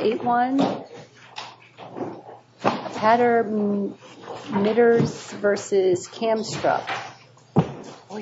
Eight one Pattern knitters versus cam struck No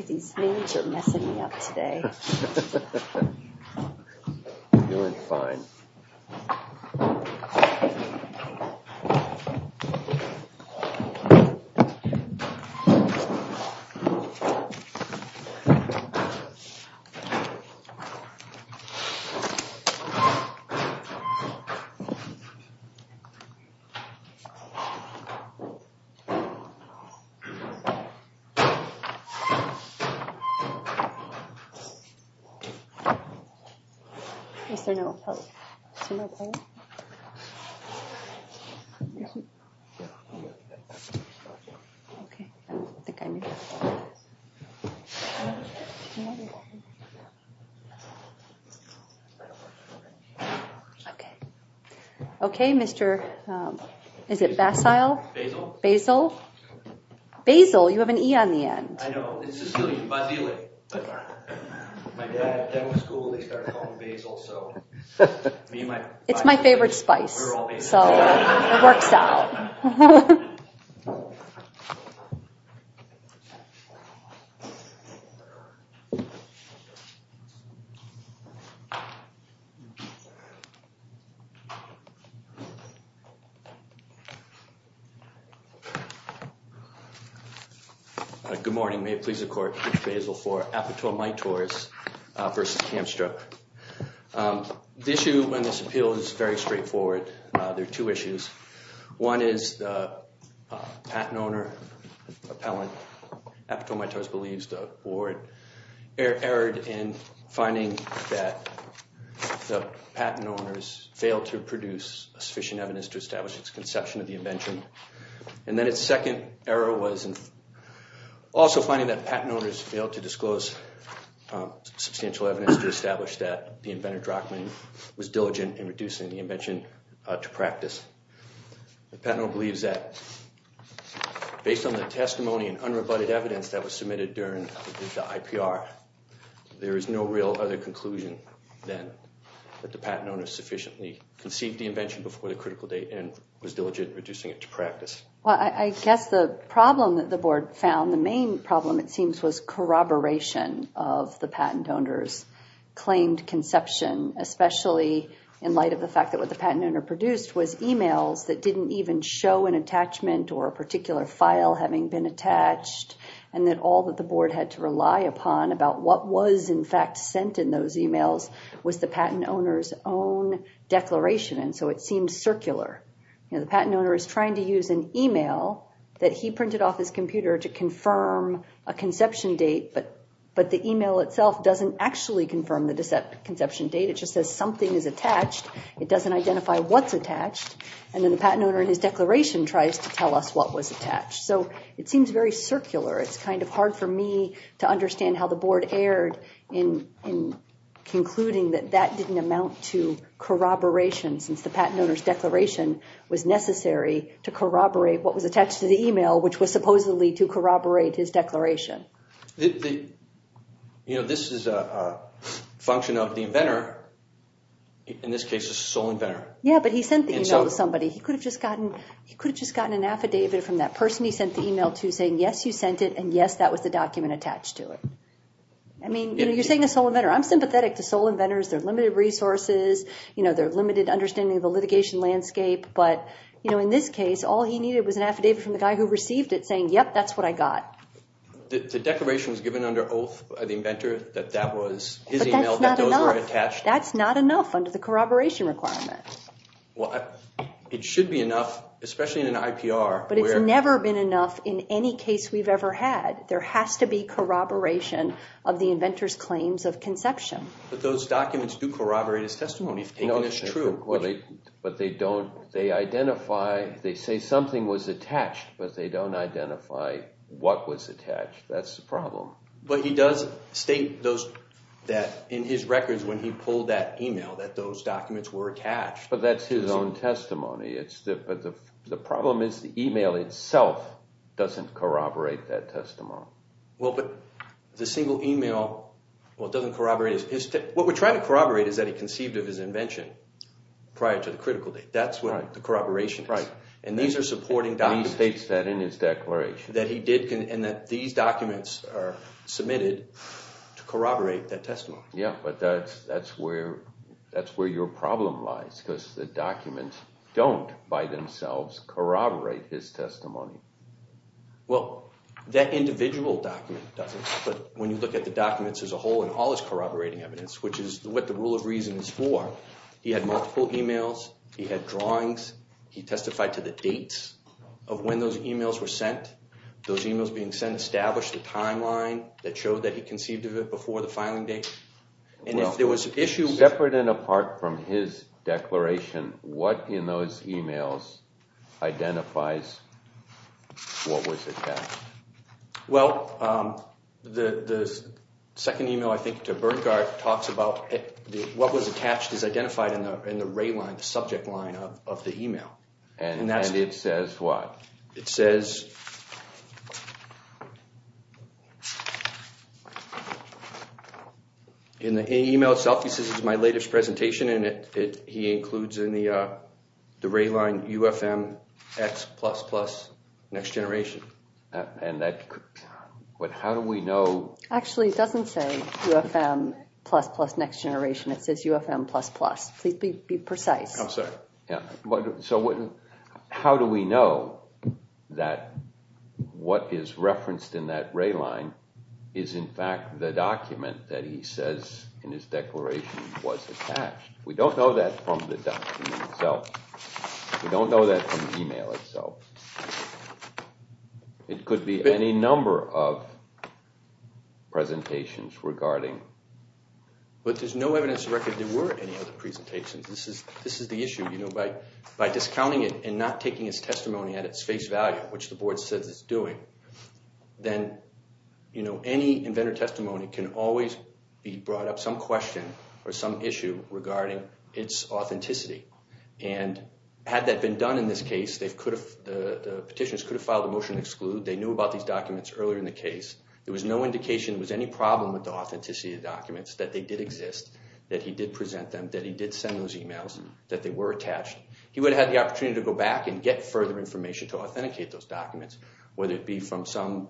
Okay, mr.. Is it basil basil basil you have an e on the end It's my favorite spice I Good morning may it please the court basal for apatow my tours versus hamstruck The issue when this appeal is very straightforward. There are two issues one is the patent owner Appellant after my toes believes the board erred in finding that The patent owners failed to produce a sufficient evidence to establish its conception of the invention and then its second error was Also finding that patent owners failed to disclose Substantial evidence to establish that the inventor drachman was diligent in reducing the invention to practice the panel believes that Based on the testimony and unrebutted evidence that was submitted during the IPR There is no real other conclusion then That the patent owners sufficiently conceived the invention before the critical date and was diligent reducing it to practice Well, I guess the problem that the board found the main problem. It seems was corroboration of the patent owners claimed conception especially in light of the fact that what the patent owner produced was emails that didn't even show an Attachment or a particular file having been attached and that all that the board had to rely upon About what was in fact sent in those emails was the patent owners own Declaration and so it seems circular You know The patent owner is trying to use an email that he printed off his computer to confirm a conception date But but the email itself doesn't actually confirm the deceptive conception date. It just says something is attached It doesn't identify what's attached and then the patent owner in his declaration tries to tell us what was attached So it seems very circular. It's kind of hard for me to understand how the board erred in Concluding that that didn't amount to Corroboration since the patent owners declaration was necessary to corroborate what was attached to the email which was supposedly to corroborate his declaration You know, this is a function of the inventor In this case is a sole inventor. Yeah, but he sent the email to somebody he could have just gotten He could have just gotten an affidavit from that person He sent the email to saying yes, you sent it. And yes, that was the document attached to it. I Mean, you know, you're saying a sole inventor. I'm sympathetic to sole inventors. They're limited resources You know, they're limited understanding of the litigation landscape But you know in this case all he needed was an affidavit from the guy who received it saying. Yep. That's what I got The declaration was given under oath by the inventor that that was That's not enough under the corroboration requirement Well, it should be enough especially in an IPR, but it's never been enough in any case We've ever had there has to be corroboration of the inventors claims of conception But those documents do corroborate his testimony if taken as true But they don't they identify they say something was attached, but they don't identify What was attached? That's the problem But he does state those that in his records when he pulled that email that those documents were attached But that's his own testimony. It's the but the problem is the email itself Doesn't corroborate that testimony. Well, but the single email Well, it doesn't corroborate his what we're trying to corroborate is that he conceived of his invention Prior to the critical date. That's what the corroboration right? And these are supporting down he states that in his declaration that he did can and that these documents are submitted To corroborate that testimony. Yeah, but that's that's where that's where your problem lies because the documents don't by themselves corroborate his testimony Well that individual document doesn't but when you look at the documents as a whole and all his corroborating evidence Which is what the rule of reason is for he had multiple emails. He had drawings He testified to the dates of when those emails were sent Those emails being sent established the timeline that showed that he conceived of it before the filing date And if there was an issue separate and apart from his declaration what in those emails? identifies What was it? well the Second email I think to burn guard talks about What was attached is identified in the in the ray line the subject line of the email and that it says what it says? In the email itself he says is my latest presentation in it it he includes in the the ray line UFM X plus plus next generation and that But how do we know actually it doesn't say Plus plus next generation. It says UFM plus plus please be precise. I'm sorry. Yeah, but so wouldn't how do we know? that What is referenced in that ray line is in fact the document that he says in his declaration was attached We don't know that from the document itself We don't know that from email itself It could be any number of Presentations regarding But there's no evidence of record there were any other presentations This is this is the issue you know by by discounting it and not taking his testimony at its face value Which the board says it's doing then you know any inventor testimony can always be brought up some question or some issue regarding its authenticity and Had that been done in this case they've could have the petitions could have filed a motion exclude They knew about these documents earlier in the case There was no indication was any problem with the authenticity of documents that they did exist That he did present them that he did send those emails that they were attached He would have had the opportunity to go back and get further information to authenticate those documents whether it be from some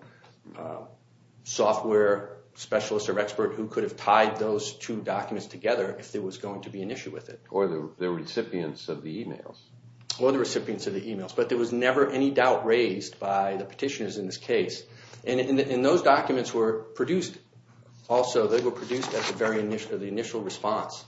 Software specialists or expert who could have tied those two documents together if there was going to be an issue with it or the Recipients of the emails or the recipients of the emails But there was never any doubt raised by the petitioners in this case and in those documents were produced Also, they were produced at the very initial of the initial response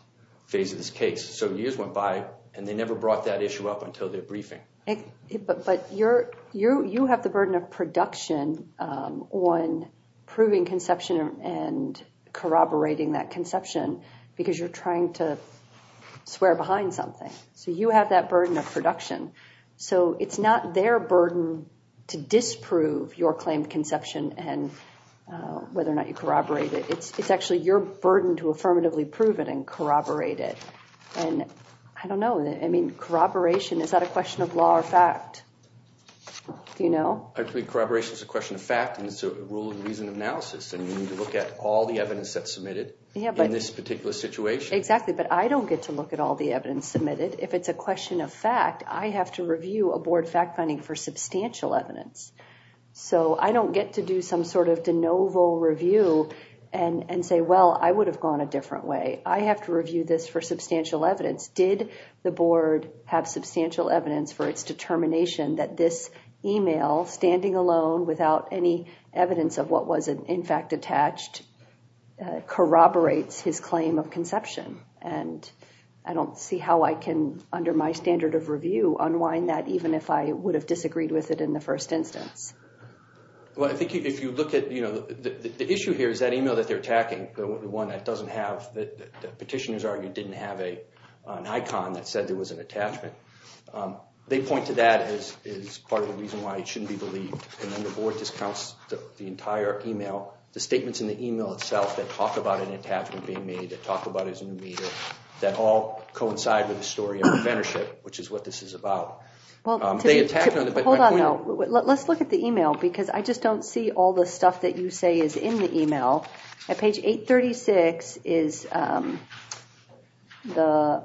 phase of this case So years went by and they never brought that issue up until their briefing But you're you you have the burden of production on proving conception and corroborating that conception because you're trying to Swear behind something so you have that burden of production so it's not their burden to disprove your claim of conception and Whether or not you corroborate it. It's it's actually your burden to affirmatively prove it and corroborate it and I don't know I mean corroboration. Is that a question of law or fact? You know, I think corroboration is a question of fact and it's a rule of reason analysis And you need to look at all the evidence that's submitted. Yeah, but in this particular situation exactly But I don't get to look at all the evidence submitted if it's a question of fact I have to review a board fact-finding for substantial evidence So I don't get to do some sort of de novo review and and say well I would have gone a different way I have to review this for substantial evidence Did the board have substantial evidence for its determination that this email standing alone without any? evidence of what was in fact attached Corroborates his claim of conception and I don't see how I can under my standard of review Unwind that even if I would have disagreed with it in the first instance Well, I think if you look at you know, the issue here is that email that they're attacking the one that doesn't have that Petitioners argued didn't have a an icon that said there was an attachment They point to that as is part of the reason why it shouldn't be believed and then the board discounts The entire email the statements in the email itself that talk about an attachment being made to talk about is a new meter That all coincide with the story of the mentorship, which is what this is about Let's look at the email because I just don't see all the stuff that you say is in the email at page 836 is The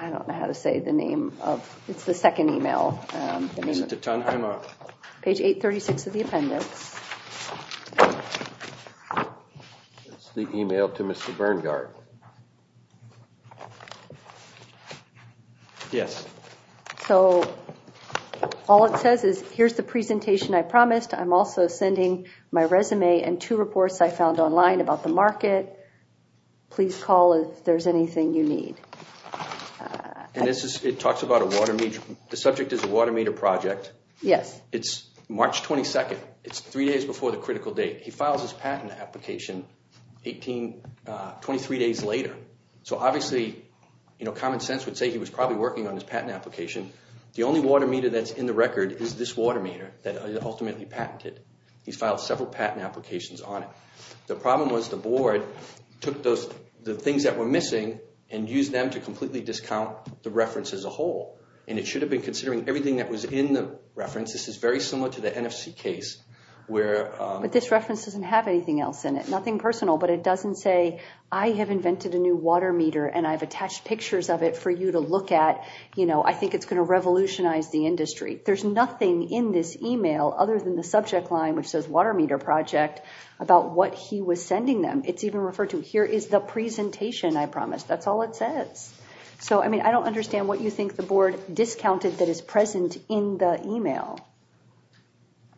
I don't know how to say the name of it's the second email To turn him off page 836 of the appendix The email to mr. Berngardt Yes, so All it says is here's the presentation. I promised I'm also sending my resume and two reports. I found online about the market Please call if there's anything you need And this is it talks about a water meter the subject is a water meter project, yes, it's March 22nd It's three days before the critical date. He files his patent application 18 23 days later. So obviously, you know common sense would say he was probably working on his patent application The only water meter that's in the record is this water meter that ultimately patented he's filed several patent applications on it Was the board took those the things that were missing and used them to completely discount the reference as a whole And it should have been considering everything that was in the reference. This is very similar to the NFC case where But this reference doesn't have anything else in it. Nothing personal But it doesn't say I have invented a new water meter and I've attached pictures of it for you to look at You know, I think it's going to revolutionize the industry There's nothing in this email other than the subject line, which says water meter project about what he was sending them It's even referred to here is the presentation. I promise that's all it says So, I mean, I don't understand what you think the board discounted that is present in the email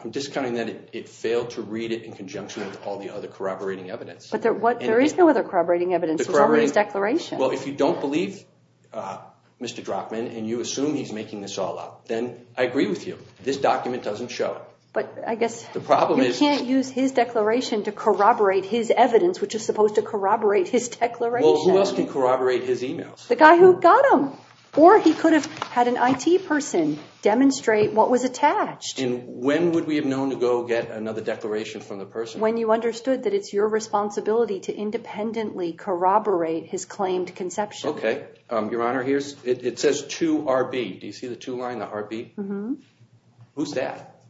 I'm discounting that it failed to read it in conjunction with all the other corroborating evidence But there what there is no other corroborating evidence for his declaration. Well, if you don't believe Mr. Drachman and you assume he's making this all up then I agree with you This document doesn't show but I guess the problem is you can't use his declaration to corroborate his evidence Which is supposed to corroborate his declaration Well, who else can corroborate his emails the guy who got him or he could have had an IT person Demonstrate what was attached and when would we have known to go get another declaration from the person when you understood that it's your responsibility Independently corroborate his claimed conception. Okay, your honor. Here's it says to RB. Do you see the to line the heartbeat? Mm-hmm Who's that?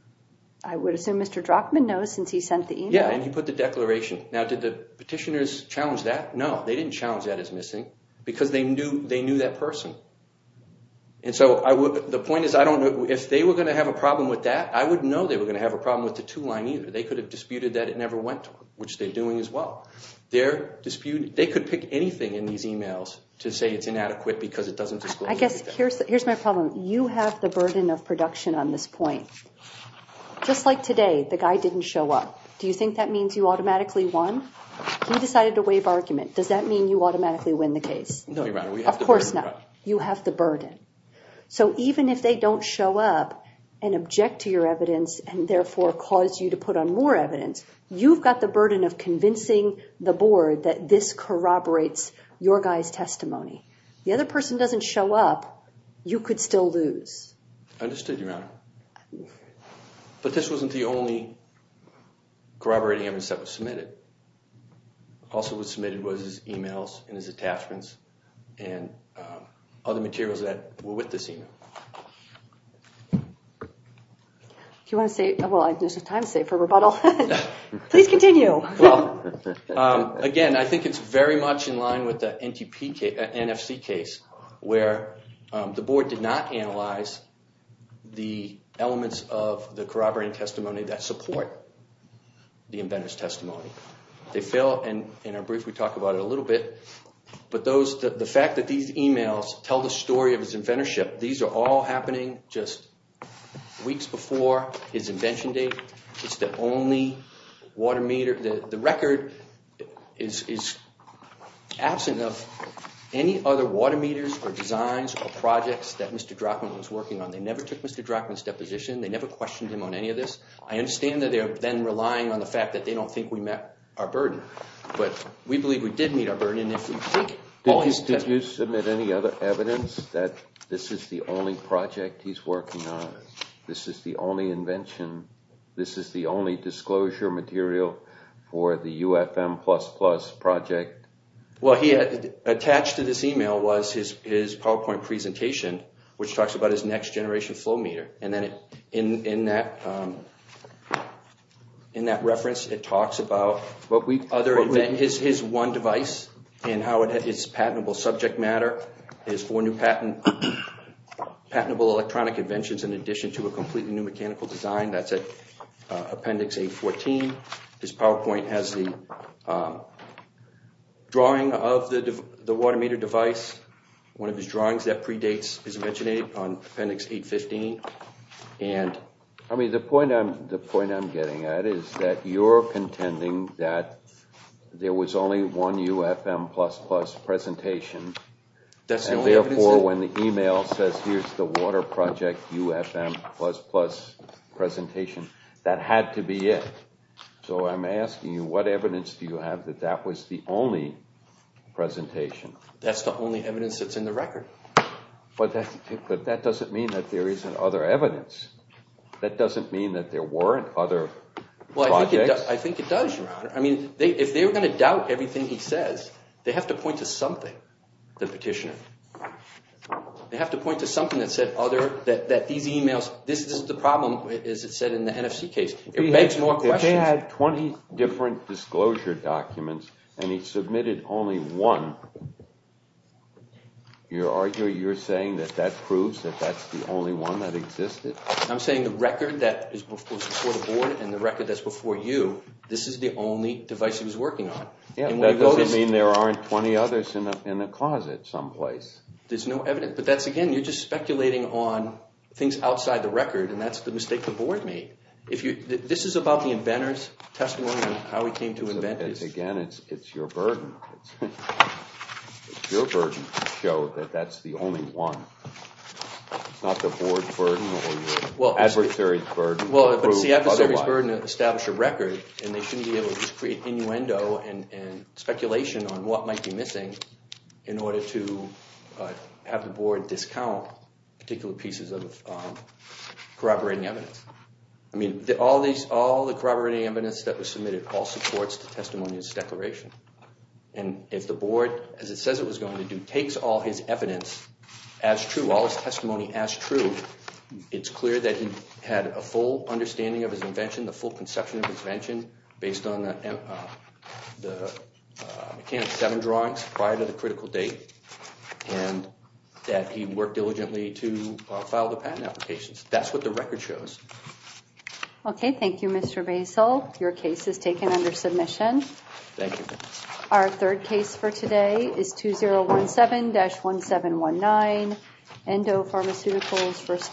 I would assume. Mr. Drachman knows since he sent the email. Yeah, and you put the declaration now Did the petitioners challenge that no, they didn't challenge that is missing because they knew they knew that person And so I would the point is I don't know if they were going to have a problem with that I wouldn't know they were gonna have a problem with the to line either They could have disputed that it never went which they're doing as well They're disputed they could pick anything in these emails to say it's inadequate because it doesn't I guess here's here's my problem You have the burden of production on this point Just like today the guy didn't show up. Do you think that means you automatically won? He decided to waive argument. Does that mean you automatically win the case? No, of course not you have the burden So even if they don't show up and object to your evidence and therefore cause you to put on more evidence You've got the burden of convincing the board that this corroborates your guys testimony The other person doesn't show up. You could still lose Understood your honor But this wasn't the only Corroborating evidence that was submitted also, what submitted was his emails and his attachments and Other materials that were with this email If you want to say well, there's a time save for rebuttal, please continue Again, I think it's very much in line with the NTP NFC case where the board did not analyze the elements of the corroborating testimony that support The inventors testimony they fail and in our brief we talked about it a little bit But those the fact that these emails tell the story of his inventorship these are all happening just Weeks before his invention date. It's the only water meter the the record is Absent of any other water meters or designs or projects that mr. Drachman was working on they never took mr. Drachman step position. They never questioned him on any of this I understand that they're then relying on the fact that they don't think we met our burden But we believe we did meet our burden if we think You submit any other evidence that this is the only project he's working on. This is the only invention This is the only disclosure material for the UFM plus plus project Well, he had attached to this email was his is PowerPoint presentation Which talks about his next generation flow meter and then it in in that In that reference it talks about what we other event is his one device and how it is patentable subject matter is for new patent Patentable electronic inventions in addition to a completely new mechanical design. That's a appendix 814 this PowerPoint has the Drawing of the the water meter device one of his drawings that predates is mentioning on appendix 815 and I mean the point I'm the point I'm getting at is that you're contending that There was only one UFM plus plus presentation That's the only or when the email says here's the water project UFM plus plus Presentation that had to be it. So I'm asking you what evidence do you have that? That was the only Presentation that's the only evidence that's in the record But that but that doesn't mean that there isn't other evidence that doesn't mean that there weren't other Well, I think I think it does. I mean they if they were going to doubt everything He says they have to point to something the petitioner They have to point to something that said other that that these emails This is the problem as it said in the NFC case It makes more they had 20 different disclosure documents and he submitted only one You're arguing you're saying that that proves that that's the only one that existed I'm saying the record that is before the board and the record that's before you This is the only device he was working on. Yeah, that doesn't mean there aren't 20 others in the closet someplace There's no evidence, but that's again You're just speculating on things outside the record and that's the mistake the board made if you this is about the inventors Testimony on how he came to invent this again. It's it's your burden Your burden to show that that's the only one It's not the board's burden or your adversaries burden Well, it was the adversaries burden to establish a record and they shouldn't be able to create innuendo and and speculation on what might be missing in order to have the board discount particular pieces of Corroborating evidence. I mean the all these all the corroborating evidence that was submitted all supports to testimonies declaration And if the board as it says it was going to do takes all his evidence as true all his testimony as true It's clear that he had a full understanding of his invention the full conception of his invention based on the McCann seven drawings prior to the critical date And that he worked diligently to file the patent applications. That's what the record shows Okay. Thank you. Mr. Basil. Your case is taken under submission Thank you, our third case for today is 2 0 1 7 dash 1 7 1 9 Endo-pharmaceuticals first